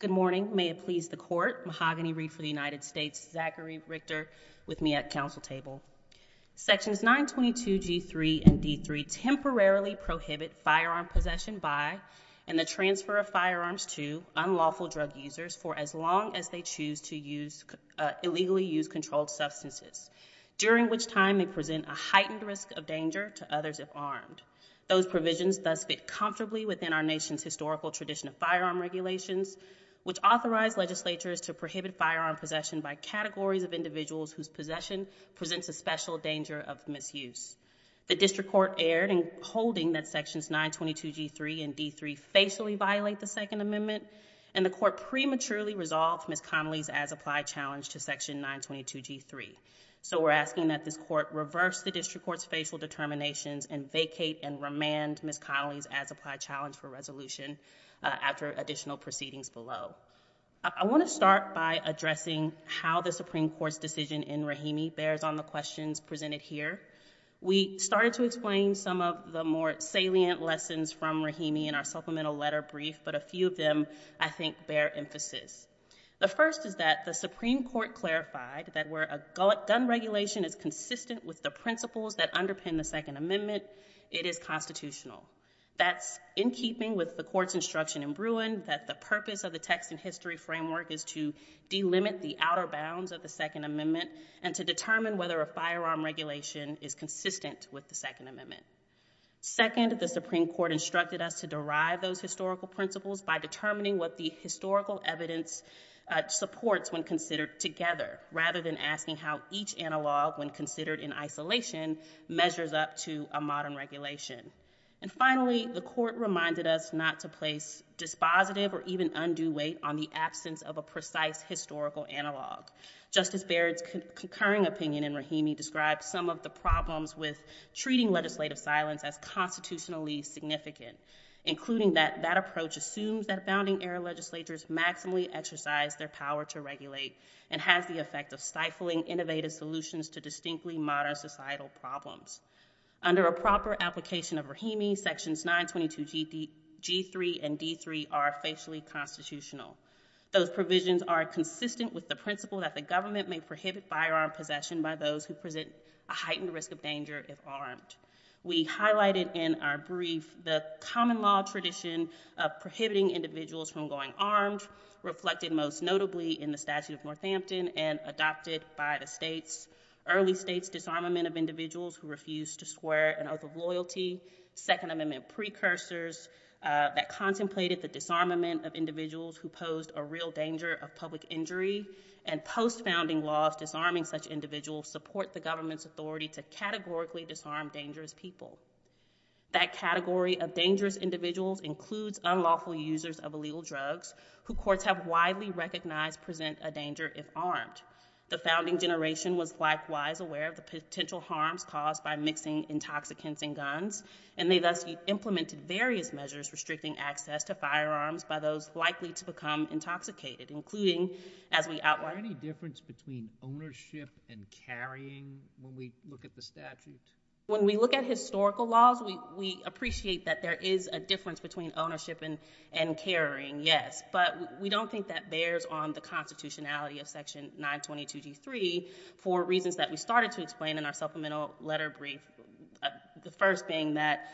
Good morning. May it please the court. Mahogany Reed for the United States. Zachary Richter with me at council table. Sections 922 G3 and D3 temporarily prohibit firearm possession by and the transfer of firearms to unlawful drug users for as long as they choose to illegally use controlled substances, during which time they present a heightened risk of danger to others if armed. Those provisions thus fit comfortably within our nation's historical tradition of firearm regulations, which authorize legislatures to prohibit firearm possession by categories of individuals whose possession presents a special danger of misuse. The district court erred in holding that sections 922 G3 and D3 facially violate the Second Amendment, and the court prematurely resolved Ms. Connelly's as-applied challenge to section 922 G3. So we're asking that this court reverse the district court's facial determinations and vacate and remand Ms. Connelly's as-applied challenge for resolution after additional proceedings below. I want to start by addressing how the Supreme Court's decision in Rahimi bears on the questions presented here. We started to explain some of the more salient lessons from Rahimi in our supplemental letter brief, but a few of them, I think, bear emphasis. The first is that the Supreme Court clarified that where a gun regulation is consistent with the principles that underpin the Second Amendment, it is constitutional. That's in keeping with the court's instruction in Bruin that the purpose of the text and history framework is to delimit the outer bounds of the Second Amendment and to determine whether a firearm regulation is consistent with the Second Amendment. Second, the Supreme Court instructed us to derive those historical principles by determining what the historical evidence supports when considered together, rather than asking how each analog, when considered in isolation, measures up to a modern regulation. And finally, the court reminded us not to place dispositive or even undue weight on the absence of a precise historical analog. Justice Barrett's concurring opinion in Rahimi described some of the problems with treating legislative silence as constitutionally significant, including that that approach assumes that founding-era legislatures maximally exercise their power to regulate and has the effect of stifling innovative solutions to distinctly modern societal problems. Under a proper application of Rahimi, Sections 922G3 and D3 are facially constitutional. Those provisions are consistent with the principle that the government may prohibit firearm possession by those who present a heightened risk of danger if armed. We highlighted in our brief the common law tradition of prohibiting individuals from going armed, reflected most notably in the Statute of Northampton and adopted by the states, early states' disarmament of individuals who refused to swear an oath of loyalty, Second Amendment precursors that contemplated the disarmament of individuals who posed a real danger of public injury, and post-founding laws disarming such individuals support the government's authority to categorically disarm dangerous people. That category of dangerous individuals includes unlawful users of illegal drugs, who courts have widely recognized present a danger if armed. The founding generation was likewise aware of the potential harms caused by mixing intoxicants and guns, and they thus implemented various measures restricting access to firearms by those likely to become intoxicated, including, as we outlined— Is there any difference between ownership and carrying when we look at the statute? When we look at historical laws, we appreciate that there is a difference between ownership and carrying, yes, but we don't think that bears on the constitutionality of Section 922G3 for reasons that we started to explain in our supplemental letter brief, the first being that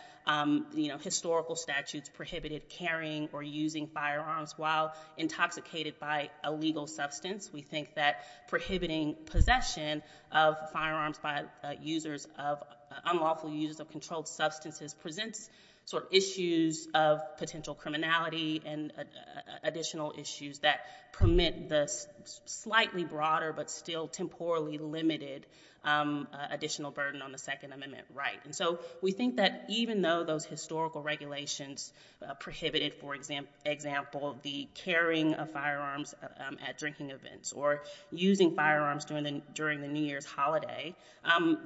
historical statutes prohibited carrying or using firearms while intoxicated by a legal substance. We think that prohibiting possession of firearms by users of—unlawful users of controlled substances presents issues of potential criminality and additional issues that permit the slightly broader but still temporally limited additional burden on the right. We think that even though those historical regulations prohibited, for example, the carrying of firearms at drinking events or using firearms during the New Year's holiday,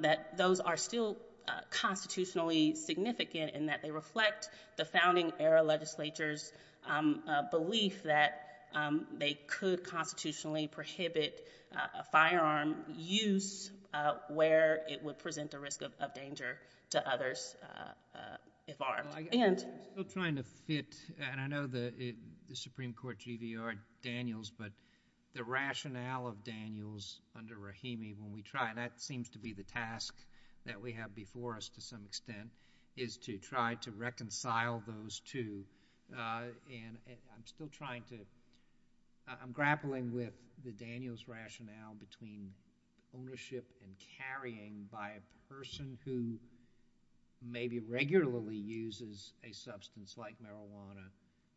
that those are still constitutionally significant in that they reflect the founding-era legislature's belief that they could constitutionally prohibit firearm use where it would present a risk of danger to others if armed. I'm still trying to fit—and I know the Supreme Court GVR Daniels, but the rationale of Daniels under Rahimi, when we try—and that seems to be the task that we have before us to some extent—is to try to reconcile those two. I'm still trying to—I'm grappling with the Daniels rationale between ownership and carrying by a person who maybe regularly uses a substance like marijuana,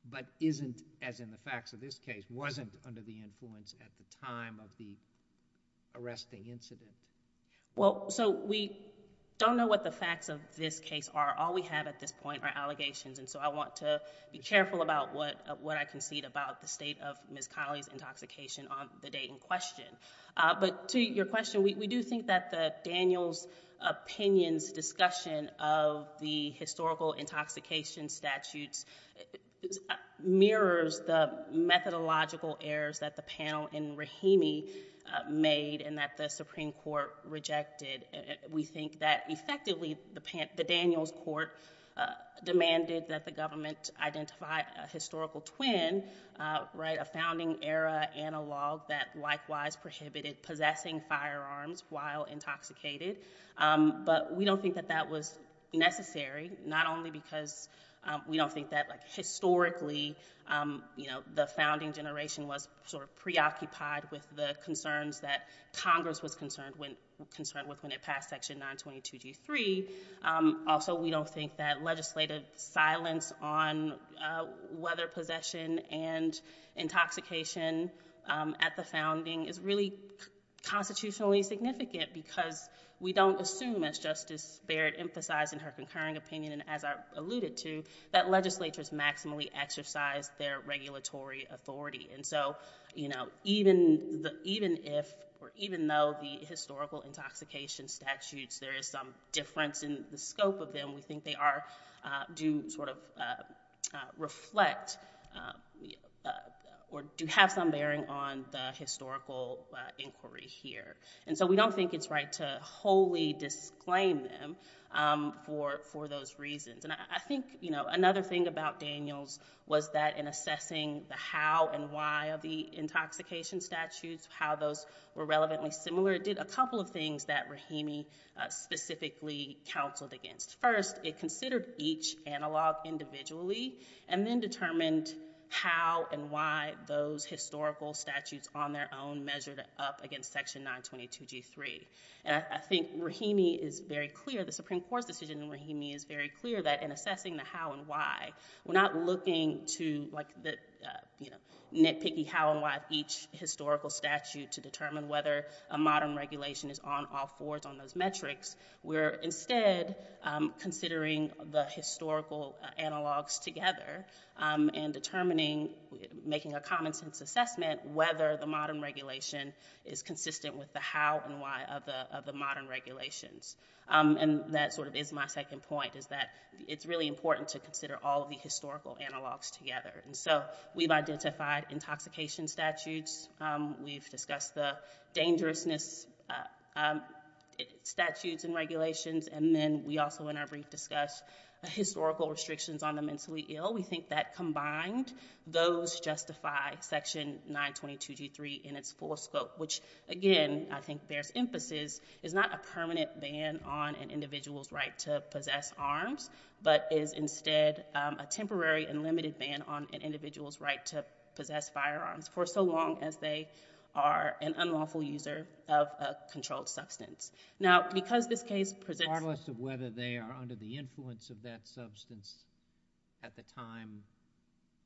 but isn't—as in the facts of this case—wasn't under the influence at the time of the arresting incident. So we don't know what the facts of this case are. All we have at this point are allegations, and so I want to be careful about what I concede about the state of Ms. Connelly's intoxication on the date in question. But to your question, we do think that Daniels' opinion's discussion of the historical intoxication statutes mirrors the methodological errors that the panel in Rahimi made and that the Supreme Court rejected. We think that effectively the Daniels court demanded that the government identify a historical twin, a founding-era analog that likewise prohibited possessing firearms while intoxicated. But we don't think that that was necessary, not only because we don't think that historically the founding generation was preoccupied with the concerns that Congress was concerned with when it passed Section 922G3. Also, we don't think that legislative silence on whether possession and intoxication at the founding is really constitutionally significant because we don't assume, as Justice Barrett emphasized in her concurring opinion and as I alluded to, that legislatures maximally exercise their regulatory authority. Even though the historical intoxication statutes, there is some difference in the scope of them, and we think they do reflect or do have some bearing on the historical inquiry here. So we don't think it's right to wholly disclaim them for those reasons. I think another thing about Daniels was that in assessing the how and why of the intoxication statutes, how those were relevantly similar, it did a couple of things that Rahimi specifically counseled against. First, it considered each analog individually and then determined how and why those historical statutes on their own measured up against Section 922G3. And I think Rahimi is very clear, the Supreme Court's decision in Rahimi is very clear that in assessing the how and why, we're not looking to nitpicky how and why each historical statute to determine whether a modern regulation is on all fours on those metrics. We're instead considering the historical analogs together and determining, making a common sense assessment whether the modern regulation is consistent with the how and why of the modern regulations. And that sort of is my second point, is that it's really important to consider all of the historical dangerousness statutes and regulations. And then we also in our brief discuss historical restrictions on the mentally ill. We think that combined, those justify Section 922G3 in its full scope, which again, I think bears emphasis, is not a permanent ban on an individual's right to possess arms, but is instead a temporary and limited ban on an individual's right to possess firearms for so long as they are an unlawful user of a controlled substance. Now, because this case presents- Regardless of whether they are under the influence of that substance at the time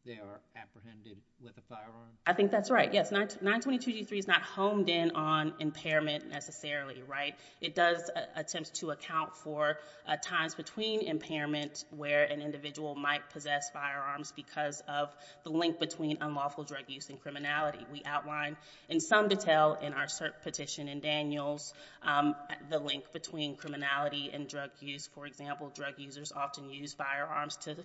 they are apprehended with a firearm? I think that's right. Yes, 922G3 is not honed in on impairment necessarily, right? It does attempt to account for times between impairment where an individual might possess firearms because of the link between unlawful drug use and criminality. We outline in some detail in our cert petition in Daniels the link between criminality and drug use. For example, drug users often use firearms to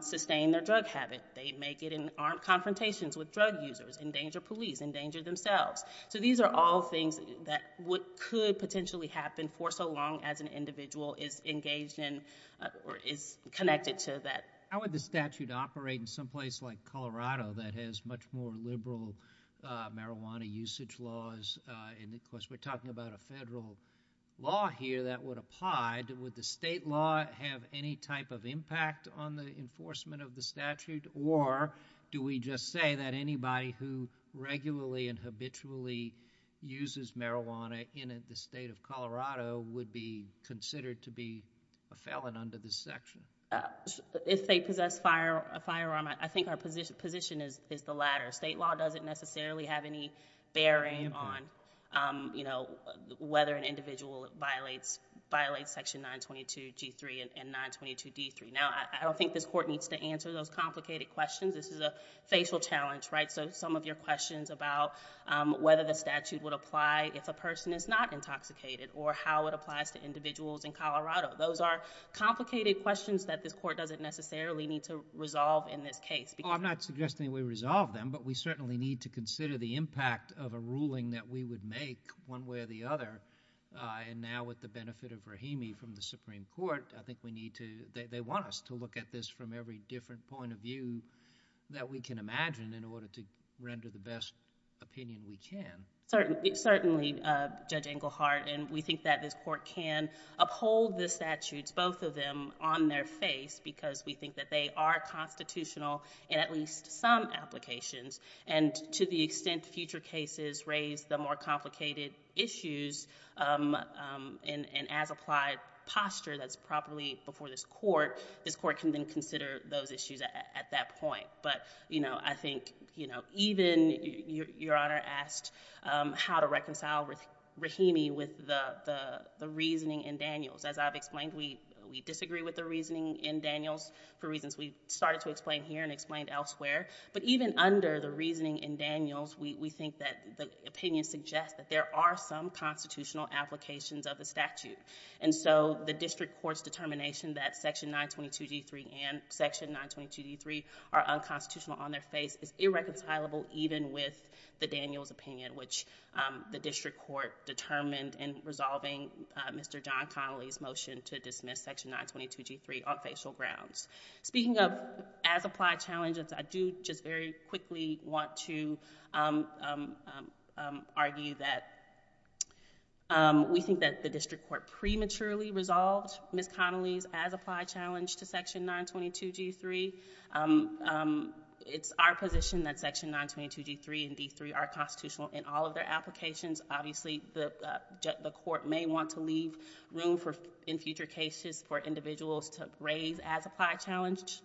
sustain their drug habit. They may get in armed confrontations with drug users, endanger police, endanger themselves. So these are all things that could potentially happen for so long as an individual is engaged in or is connected to that. How would the statute operate in some place like Colorado that has much more liberal marijuana usage laws? Of course, we're talking about a federal law here that would apply. Would the state law have any type of impact on the enforcement of the statute, or do we just say that anybody who regularly and habitually uses marijuana in the state of Colorado would be considered to be a felon under this section? If they possess a firearm, I think our position is the latter. State law doesn't necessarily have any bearing on whether an individual violates section 922G3 and 922D3. Now, I don't think this court needs to answer those complicated questions. This is a facial challenge, right? So some of your questions about whether the statute would apply if a person is not intoxicated or how it applies to individuals in Colorado. Those are complicated questions that this court doesn't necessarily need to resolve in this case. Well, I'm not suggesting we resolve them, but we certainly need to consider the impact of a ruling that we would make one way or the other. Now, with the benefit of Rahimi from the Supreme Court, I think we need to... they want us to look at this from every different point of view that we can imagine in order to render the best opinion we can. Certainly, Judge Englehart, and we think that this court can uphold the statutes, both of them, on their face because we think that they are constitutional in at least some applications. To the extent future cases raise the more complicated issues and as applied posture that's properly before this court, this court can then consider those issues at that point. But I think even... Your Honor asked how to reconcile Rahimi with the reasoning in Daniels. As I've explained, we disagree with the reasoning in Daniels for reasons we started to explain here and explained elsewhere. But even under the reasoning in Daniels, we think that the opinion suggests that there are some constitutional applications of the statute. The district court's determination that Section 922G3 and Section 922D3 are unconstitutional on their face is irreconcilable even with the Daniels opinion, which the district court determined in resolving Mr. John Connolly's motion to dismiss Section 922G3 on facial grounds. Speaking of as applied challenges, I do just very quickly want to argue that we think that the district court prematurely resolved Ms. Connolly's as applied challenge to Section 922G3. It's our position that Section 922G3 and 922D3 are constitutional in all of their applications. Obviously, the court may want to leave room in future cases for individuals to raise as applied challenges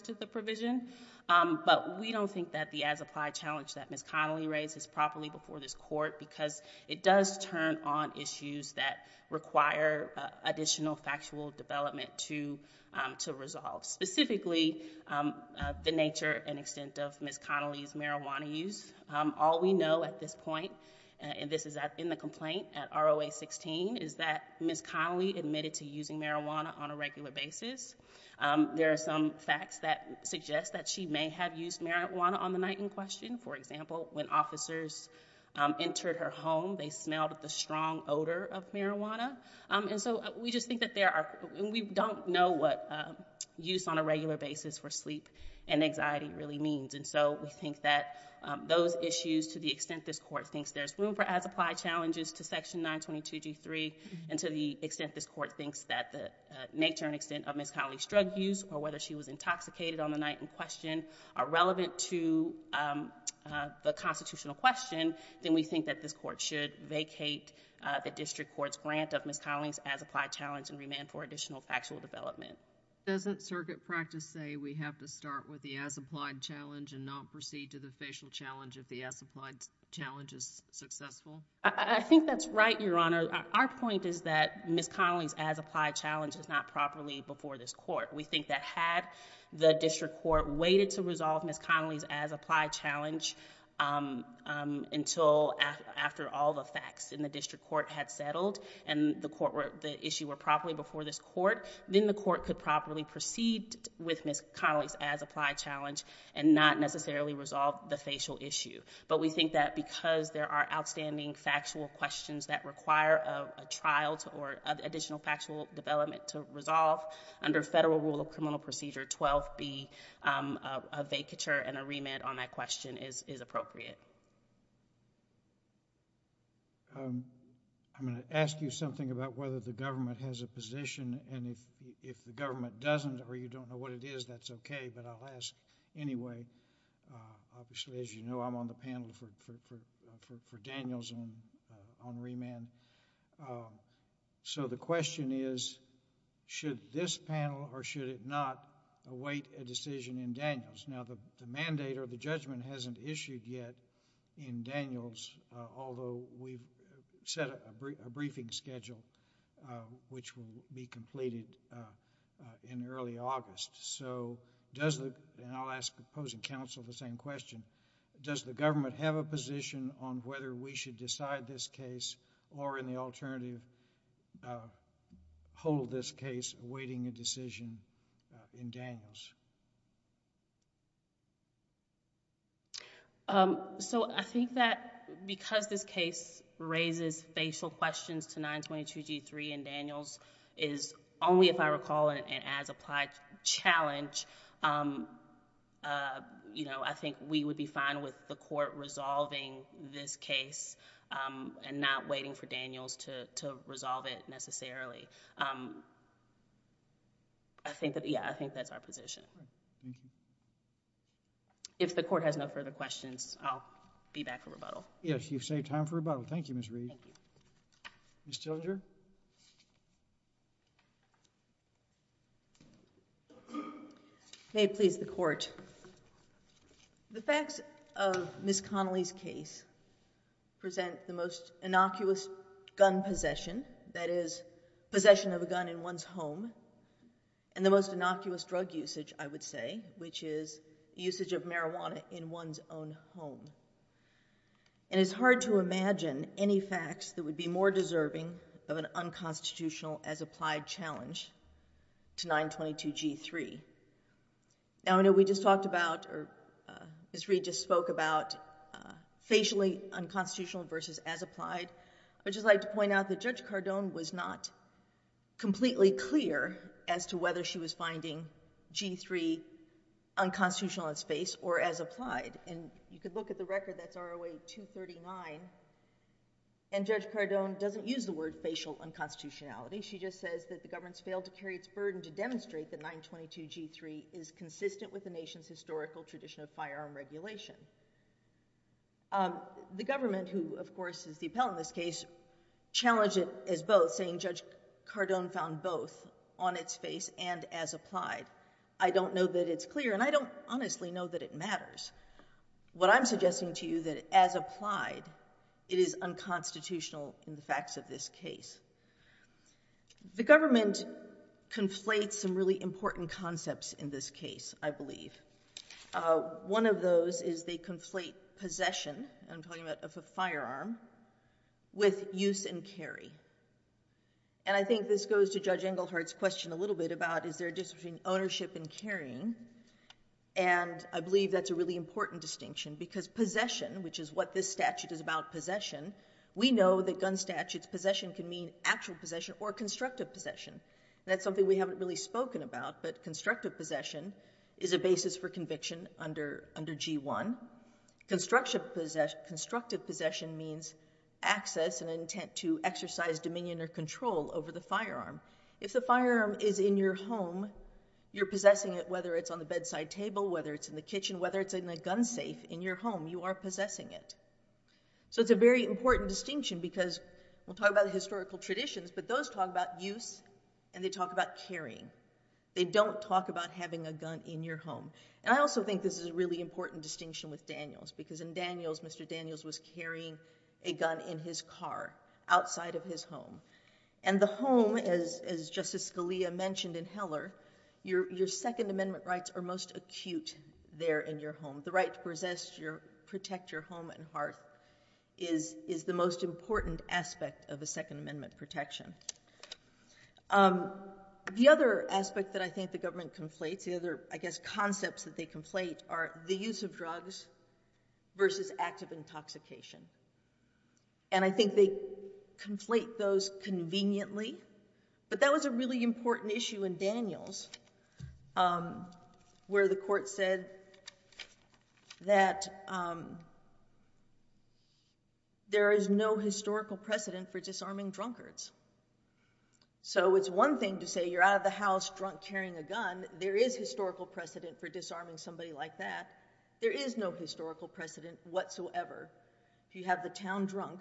to the provision. But we don't think that the as applied challenge that Ms. Connolly raises properly before this court because it does turn on issues that require additional factual development to resolve, specifically the nature and extent of Ms. Connolly's marijuana use. All we know at this point, and this is in the complaint at ROA-16, is that Ms. Connolly admitted to using marijuana on a regular basis. There are some facts that suggest that she may have used marijuana on the night in question. For example, when officers entered her home, they smelled the strong odor of marijuana. We don't know what use on a regular basis for sleep and anxiety really means. We think that those issues, to the extent this court thinks there's room for as applied challenges to Section 922G3 and to the extent this court thinks that the nature and extent of Ms. Connolly's drug use or whether she was intoxicated on the night in question are relevant to the constitutional question, then we think that this court should vacate the district court's grant of Ms. Connolly's as applied challenge and remand for additional factual development. Doesn't circuit practice say we have to start with the as applied challenge and not proceed to the facial challenge if the as applied challenge is successful? I think that's right, Your Honor. Our point is that Ms. Connolly's as applied challenge is not properly before this court. We think that had the district court waited to resolve Ms. Connolly's as applied challenge until after all the facts in the district court had settled and the issue were properly before this court, then the court could properly proceed with Ms. Connolly's as applied challenge and not necessarily resolve the facial issue. We think that because there are outstanding factual questions that require a trial or additional factual development to resolve under federal rule of criminal procedure 12B, a vacature and a remand on that question is appropriate. I'm going to ask you something about whether the government has a position and if the government doesn't or you don't know what it is, that's okay, but I'll ask anyway. Obviously, as you know, I'm on the panel for Daniels on remand. The question is, should this panel or should it not await a decision in Daniels? The mandate or the judgment hasn't issued yet in Daniels although we've set a briefing schedule which will be completed in early August. I'll ask Ms. Connolly and counsel the same question. Does the government have a position on whether we should decide this case or in the alternative hold this case awaiting a decision in Daniels? I think that because this case raises facial questions to 922G3 in Daniels is only if I apply challenge, I think we would be fine with the court resolving this case and not waiting for Daniels to resolve it necessarily. I think that's our position. If the court has no further questions, I'll be back for rebuttal. Yes, you've saved time for rebuttal. Thank you, Ms. Reed. Ms. Tilger? May it please the court. The facts of Ms. Connolly's case present the most innocuous gun possession, that is possession of a gun in one's home and the most innocuous drug usage, I would say, which is usage of marijuana in one's own home. And it's hard to imagine any facts that would be more deserving of an unconstitutional as applied challenge to 922G3. Now I know we just talked about or Ms. Reed just spoke about facially unconstitutional versus as applied. I would just like to point out that Judge Cardone was not completely clear as to whether she was finding G3 unconstitutional in its face or as applied. And you could look at the record that's ROA 239 and Judge Cardone doesn't use the word facial unconstitutionality. She just says that the government's failed to carry its burden to demonstrate that 922G3 is consistent with the nation's historical tradition of firearm regulation. The government, who of course is the appellant in this case, challenged it as both saying Judge Cardone found both on its face and as applied. I don't know that it's clear and I don't honestly know that it matters. What I'm suggesting to you that as applied, it is unconstitutional in the facts of this case. The government conflates some really important concepts in this case, I believe. One of those is they conflate possession, I'm talking about a firearm, with use and carry. And I think this goes to Judge Engelhardt's question a little bit about is there a difference between ownership and carrying. And I believe that's a really important distinction because possession, which is what this statute is about, possession, we know that gun statutes, possession can mean actual possession or constructive possession. That's something we haven't really spoken about, but constructive possession is a basis for conviction under G1. Constructive possession means access and intent to exercise dominion or control over the firearm. If the firearm is in your home, you're possessing it whether it's on the bedside table, whether it's in the kitchen, whether it's in a gun safe in your home, you are possessing it. So it's a very important distinction because we'll talk about historical traditions, but those talk about use and they talk about carrying. They don't talk about having a gun in your home. And I also think this is a really important distinction with Daniels because in Daniels, Mr. Daniels was carrying a gun in his car outside of his home. And the home, as Justice Scalia mentioned in Heller, your Second Amendment rights are most acute there in your home. The right to protect your home and hearth is the most important aspect of a Second Amendment protection. The other aspect that I think the government conflates, the other, I guess, concepts that they conflate are the use of drugs versus active intoxication. And I think they conflate those conveniently, but that was a really important issue in Daniels where the court said that there is no historical precedent for disarming drunkards. So it's one thing to say you're out of the house drunk carrying a gun. There is historical precedent for disarming somebody like that. There is no historical precedent whatsoever. If you have the town drunk,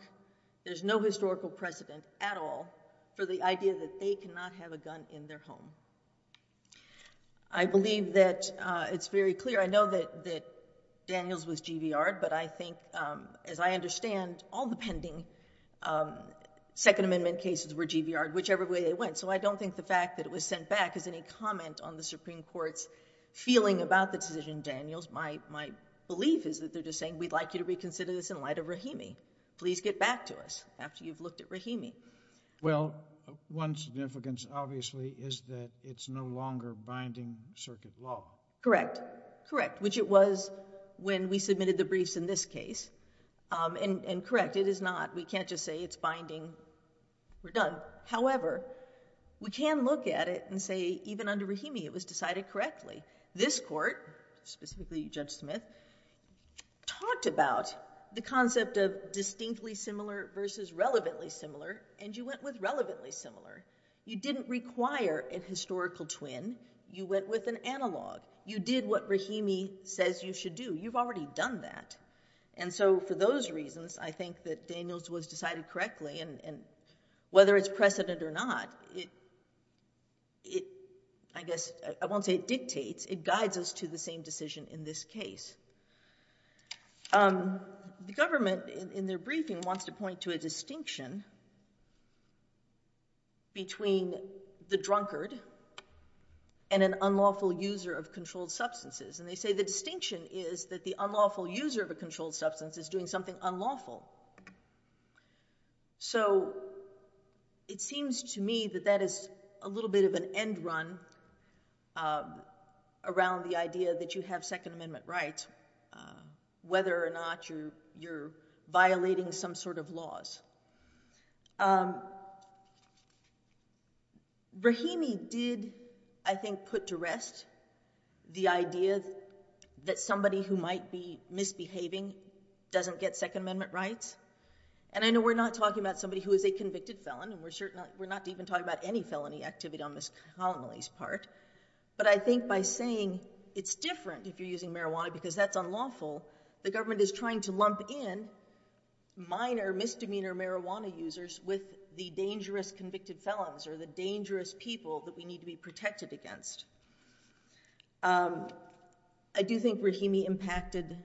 there's no historical precedent at all for the idea that they cannot have a gun in their home. I believe that it's very clear. I know that Daniels was GVR'd, but I think, as I understand, all the pending Second Amendment cases were GVR'd, whichever way they went. So I don't think the fact that it was sent back is any comment on the Supreme Court's feeling about the decision in Daniels. My belief is that they're just saying, we'd like you to reconsider this in light of Rahimi. Please get back to us after you've looked at Rahimi. Well, one significance, obviously, is that it's no longer binding circuit law. Correct. Correct. Which it was when we submitted the briefs in this case. And correct, it is not. We can't just say it's binding. We're done. However, we can look at it and say even under Rahimi it was decided correctly. This court, specifically Judge Smith, talked about the concept of distinctly similar versus relevantly similar, and you went with relevantly similar. You didn't require a historical twin. You went with an analog. You did what Rahimi says you should do. You've already done that. And so for those reasons, I think that Daniels was decided correctly. And whether it's precedent or not, I won't say it dictates, it guides us to the same decision in this case. The government, in their briefing, wants to point to a distinction between the drunkard and an unlawful user of controlled substances. And they say the distinction is that the unlawful user of a controlled substance is doing something unlawful. So it seems to me that that is a little bit of an end run around the idea that you have Second Amendment rights, whether or not you're violating some sort of laws. Rahimi did, I think, put to rest the idea that somebody who might be misbehaving doesn't get Second Amendment rights. And I know we're not talking about somebody who is a convicted felon, and we're not even talking about any felony activity on Ms. Connolly's part. But I think by saying it's different if you're using marijuana because that's unlawful, the government is trying to lump in minor misdemeanor marijuana users with the dangerous convicted felons or the dangerous people that we need to be protected against. I do think Rahimi impacted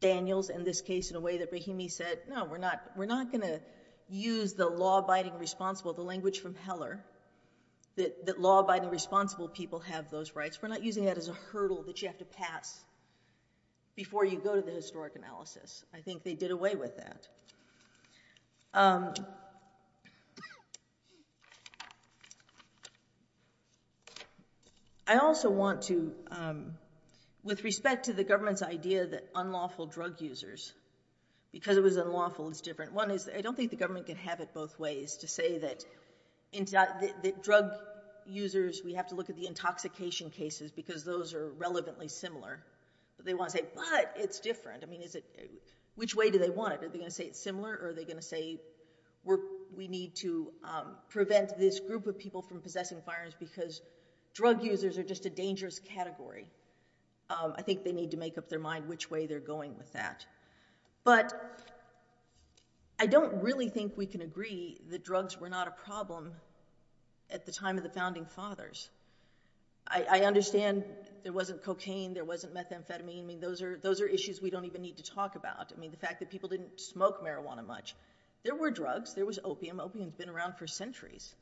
Daniels and this case in a way that Rahimi said, no, we're not going to use the law-abiding responsible, the language from Heller, that law-abiding responsible people have those rights. We're not using that as a hurdle that you have to pass before you go to the historic analysis. I think they did away with that. I also want to, with respect to the government's idea that unlawful drug users, because it was unlawful, it's different. One is I don't think the government can have it both ways to say that drug users, we have to look at the intoxication cases because those are relevantly similar. But they want to say, but it's different. Which way do they want it? Are they going to say it's similar or are they going to say we need to prevent this group of people from possessing firearms because drug users are just a dangerous category. I think they need to make up their mind which way they're going with that. But I don't really think we can agree that drugs were not a problem at the time of the founding fathers. I understand there wasn't cocaine, there wasn't methamphetamine. I mean, those are issues we don't even need to talk about. I mean, the fact that people didn't smoke marijuana much. There were drugs, there was opium. Opium's been around for centuries.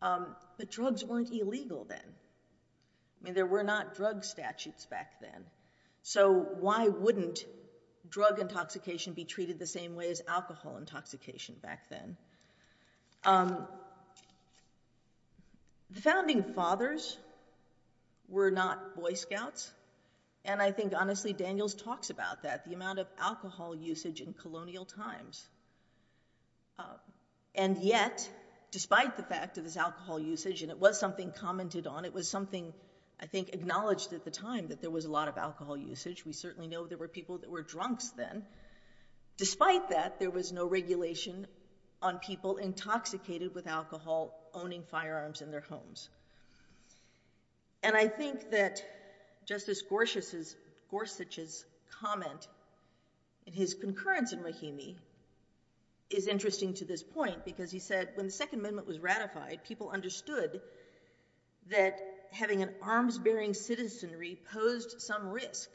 But drugs weren't illegal then. I mean, there were not drug statutes back then. So why wouldn't drug intoxication be treated the same way as alcohol intoxication back then? The founding fathers were not Boy Scouts, and I think honestly Daniels talks about that, the amount of alcohol usage in colonial times. And yet, despite the fact of this alcohol usage, and it was something commented on, it was something I think acknowledged at the time that there was a lot of alcohol usage. We certainly know there were people that were drunks then. Despite that, there was no regulation on people intoxicated with alcohol owning firearms in their homes. And I think that Justice Gorsuch's comment in his concurrence in Mahimi is interesting to this point, because he said when the Second Amendment was ratified, people understood that having an arms-bearing citizenry posed some risk.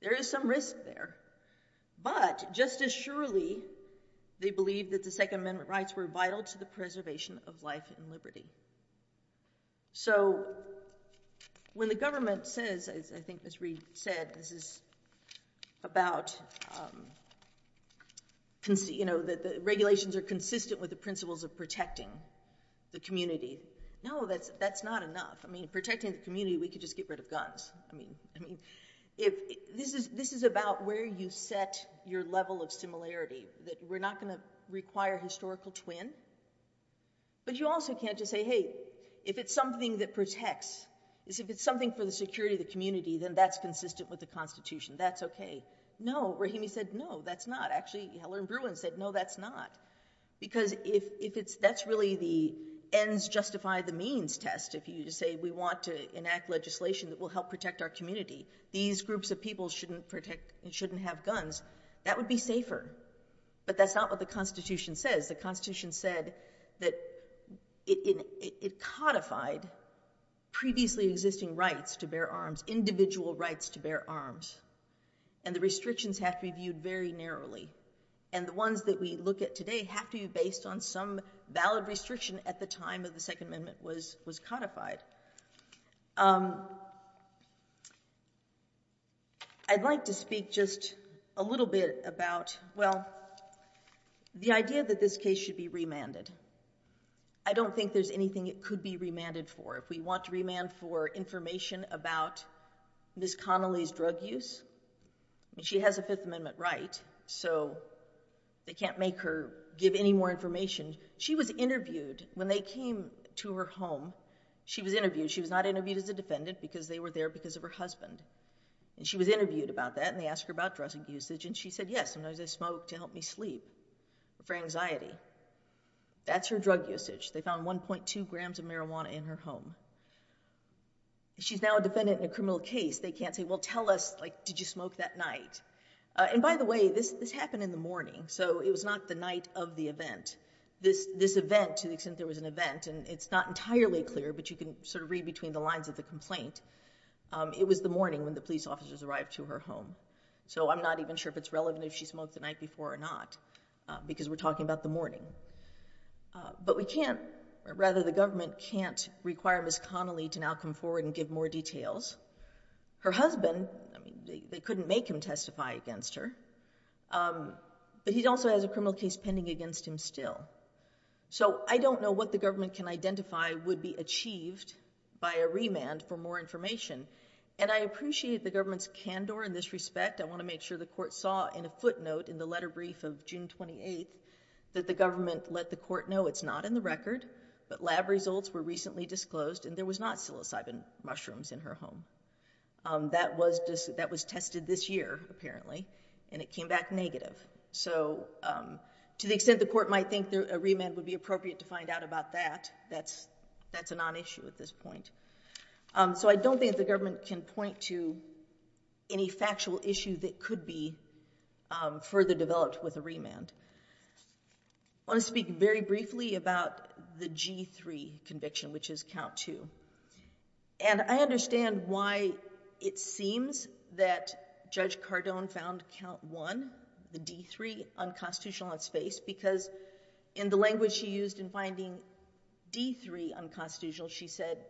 There is some risk there. But, just as surely they believed that the Second Amendment rights were vital to the preservation of life and liberty. So, when the government says, as I think Ms. Reed said, this is about, you know, that the regulations are consistent with the principles of protecting the community. No, that's not enough. I mean, protecting the community, we could just get rid of guns. I mean, this is about where you set your level of similarity, that we're not going to require historical twin. But you also can't just say, hey, if it's something that protects, if it's something for the security of the community, then that's consistent with the Constitution. That's okay. No, Rahimi said, no, that's not. Actually, Helen Bruin said, no, that's not. Because if that's really the ends justify the means test, if you say we want to enact legislation that will help protect our community, these groups of people shouldn't protect, shouldn't have guns, that would be safer. But that's not what the Constitution says. The Constitution said that it codified previously existing rights to bear arms, individual rights to bear arms. And the restrictions have to be viewed very narrowly. And the ones that we look at today have to be based on some valid restriction at the time of the Second Amendment was codified. I'd like to speak just a little bit about, well, the idea that this case should be remanded. I don't think there's anything it could be remanded for. If we want to remand for information about Ms. Connolly's drug use, she has a Fifth Amendment right, so they can't make her give any more information. She was interviewed when they came to her home. She was interviewed. She was not interviewed as a defendant because they were there because of her husband. And she was interviewed about that and they asked her about drug usage and she said, yes, sometimes I smoke to help me sleep for anxiety. That's her drug usage. They found 1.2 grams of marijuana in her home. She's now a defendant in a criminal case. They can't say, well, tell us, like, did you smoke that night? And by the way, this happened in the morning, so it was not the night of the event. This event, to the extent there was an event, and it's not entirely clear but you can sort of read between the lines of the complaint, it was the morning when the police officers arrived to her home. So I'm not even sure if it's relevant if she smoked the night before or not because we're talking about the morning. But we can't, or rather the government can't require Ms. Connolly to now come forward and give more details. Her husband, I mean, they couldn't make him testify against her, but he also has a criminal case pending against him still. So I don't know what the government can identify would be achieved by a remand for more information. And I appreciate the government's candor in this respect. I want to make sure the court saw in a footnote in the letter brief of June 28th that the government let the court know it's not in the record, but lab results were recently disclosed and there was not psilocybin mushrooms in her home. That was tested this year, apparently, and it came back negative. So to the extent the court might think a remand would be appropriate to find out about that, that's a non-issue at this point. So I don't think the government can point to any factual issue that could be further developed with a remand. I want to speak very briefly about the G3 conviction, which is count two. And I understand why it seems that Judge Cardone found count one, the D3 unconstitutional on its face, because in the language she used in finding D3 unconstitutional, she said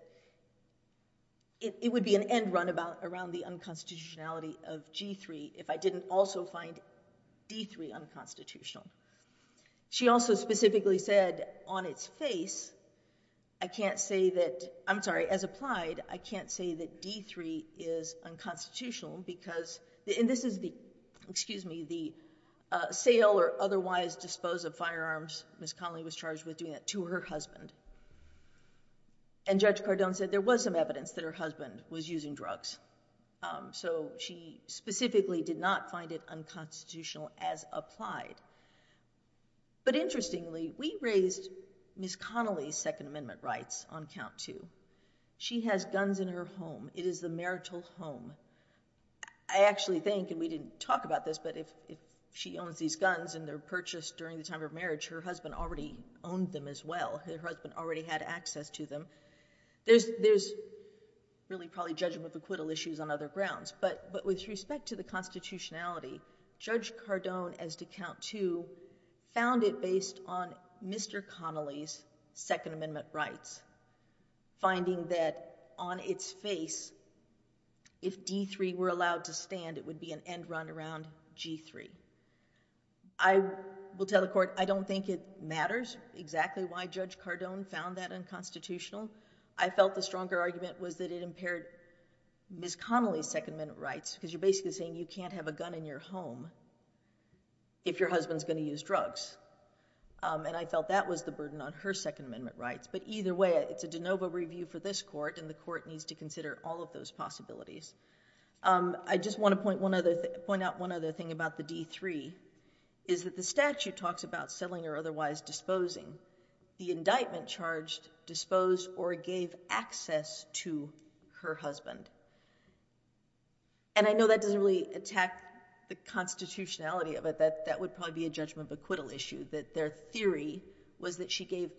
it would be an end runabout around the unconstitutionality of G3 if I didn't also find D3 unconstitutional. She also specifically said on its face, I can't say that, I'm sorry, as applied, I can't say that D3 is unconstitutional because, and this is the, excuse me, the sale or otherwise dispose of firearms Ms. Connelly was charged with doing that to her husband. And Judge Cardone said there was some evidence that her husband was using drugs. So she specifically did not find it unconstitutional as applied. But interestingly, we raised Ms. Connelly's Second Amendment rights on count two. She has guns in her home. It is the marital home. I actually think, and we didn't talk about this, but if she owns these guns and they're purchased during the time of marriage, her husband already owned them as well. Her husband already had access to them. There's really probably judgmental issues on other grounds. But with respect to the constitutionality, Judge Cardone, as to count two, found it based on Mr. Connelly's Second Amendment rights, finding that on its face, if D3 were allowed to stand, it would be an end run around G3. I will tell the court, I don't think it matters exactly why Judge Cardone found that unconstitutional. I felt the stronger argument was that it impaired Ms. Connelly's Second Amendment rights, because you're basically saying you can't have a gun in your home if your husband's going to use drugs. And I felt that was the burden on her Second Amendment rights. But either way, it's a de novo review for this court, and the court needs to consider all of those possibilities. I just want to point out one other thing about the D3, is that the statute talks about selling or otherwise disposing. The indictment charged disposed or gave access to her husband. And I know that doesn't really attack the constitutionality of it. That would probably be a judgment of acquittal issue, that their theory was that she gave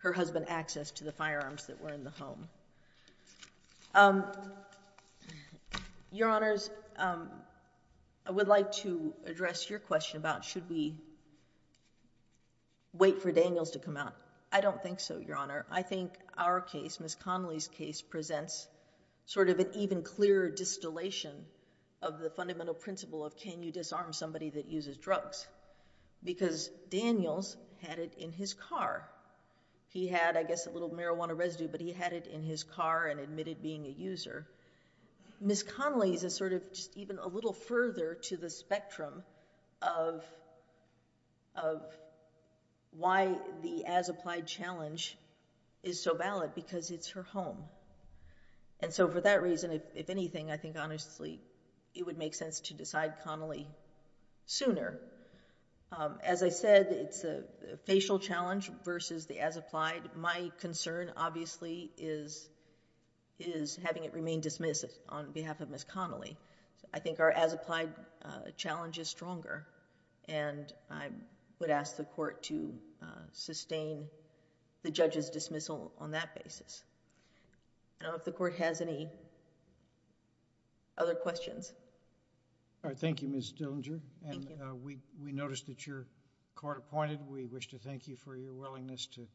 her husband access to the firearms that were in the home. Your Honors, I would like to address your question about should we wait for Daniels to come out. I don't think so, Your Honor. I think our case, Ms. Connelly's case presents sort of an even clearer distillation of the fundamental principle of can you disarm somebody that uses drugs. Because Daniels had it in his car. He had, I guess, a little marijuana residue, but he had it in his car and admitted being a user. Ms. Connelly's is sort of just even a little further to the spectrum of why the as-applied challenge is so valid, because it's her home. And so for that reason, if anything, I think honestly it would make sense to decide Connelly sooner. As I said, it's a facial challenge versus the as-applied. My concern, obviously, is having it remain dismissive on behalf of Ms. Connelly. I think our as-applied challenge is stronger and I would ask the court to sustain the judge's dismissal on that basis. I don't know if the court has any other questions. Thank you, Ms. Dillinger. Thank you. We noticed that you're court-appointed. We wish to thank you for your willingness to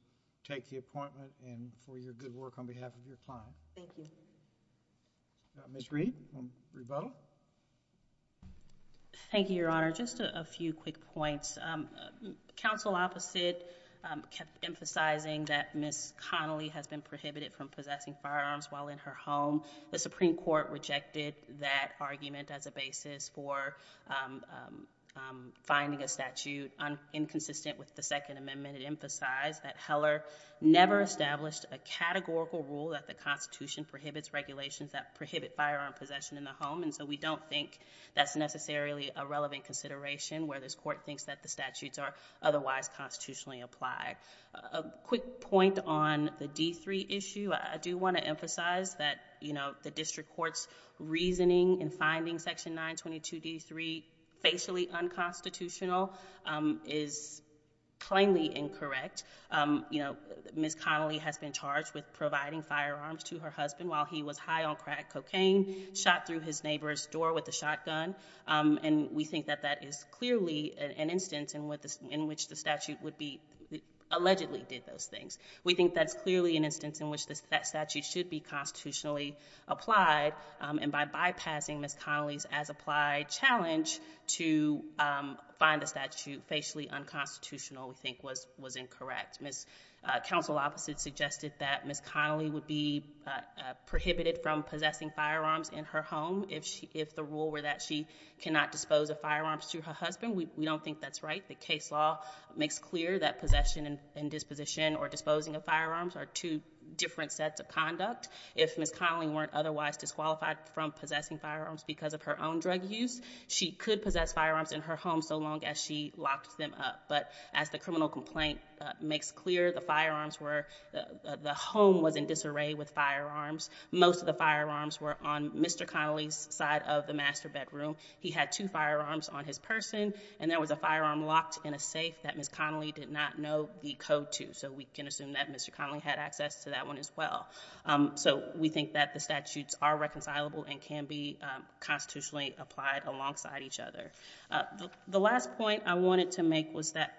take the appointment and for your good work on behalf of your client. Thank you. Ms. Reed, on rebuttal. Thank you, Your Honor. Just a few quick points. The counsel opposite kept emphasizing that Ms. Connelly has been prohibited from possessing firearms while in her home. The Supreme Court rejected that argument as a basis for finding a statute inconsistent with the Second Amendment. It emphasized that Heller never established a categorical rule that the Constitution prohibits regulations that prohibit firearm possession in the home. And so we don't think that's necessarily a relevant consideration where this court thinks that the statutes are otherwise constitutionally applied. A quick point on the D-3 issue. I do want to emphasize that the district court's reasoning in finding Section 922 D-3 facially unconstitutional is plainly incorrect. Ms. Connelly has been charged with providing firearms to her husband while he was high on crack cocaine, shot through his neighbor's door with a shotgun, and we think that that is clearly an instance in which the statute allegedly did those things. We think that's clearly an instance in which that statute should be constitutionally applied, and by bypassing Ms. Connelly's as-applied challenge to find a statute facially unconstitutional, we think was incorrect. Counsel opposite suggested that Ms. Connelly would be prohibited from possessing firearms in her home if the rule were that she cannot dispose of firearms to her husband. We don't think that's right. The case law makes clear that possession and disposition or disposing of firearms are two different sets of conduct. If Ms. Connelly weren't otherwise disqualified from possessing firearms because of her own drug use, she could possess firearms in her home so long as she locked them up. But as the criminal complaint makes clear, the firearms were, the home was in disarray with firearms. Most of the firearms were on Mr. Connelly's side of the master bedroom. He had two firearms on his person, and there was a firearm locked in a safe that Ms. Connelly did not know the code to. So we can assume that Mr. Connelly had access to that one as well. So we think that the statutes are reconcilable and can be constitutionally applied alongside each other. The last point I wanted to make was that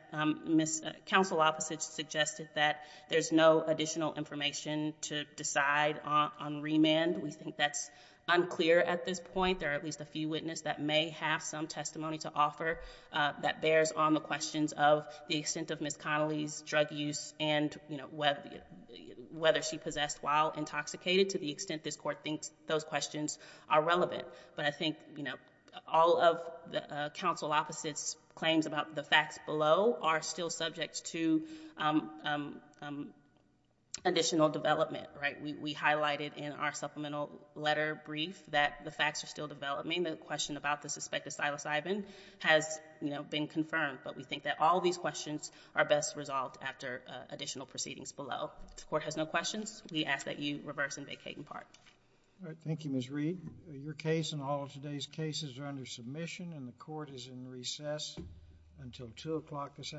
counsel opposite suggested that there's no additional information to decide on remand. We think that's unclear at this point. There are at least a few witness that may have some testimony to offer that bears on the questions of the extent of Ms. Connelly's drug use and whether she possessed while intoxicated to the extent this court thinks those questions are relevant. But I think all of the counsel opposite's questions about the facts below are still subject to additional development. We highlighted in our supplemental letter brief that the facts are still developing. The question about the suspected psilocybin has been confirmed. But we think that all of these questions are best resolved after additional proceedings below. If the court has no questions, we ask that you reverse and vacate in part. Thank you, Ms. Reed. Your case and all of today's cases are under submission and the court is in recess until 2 o'clock this afternoon.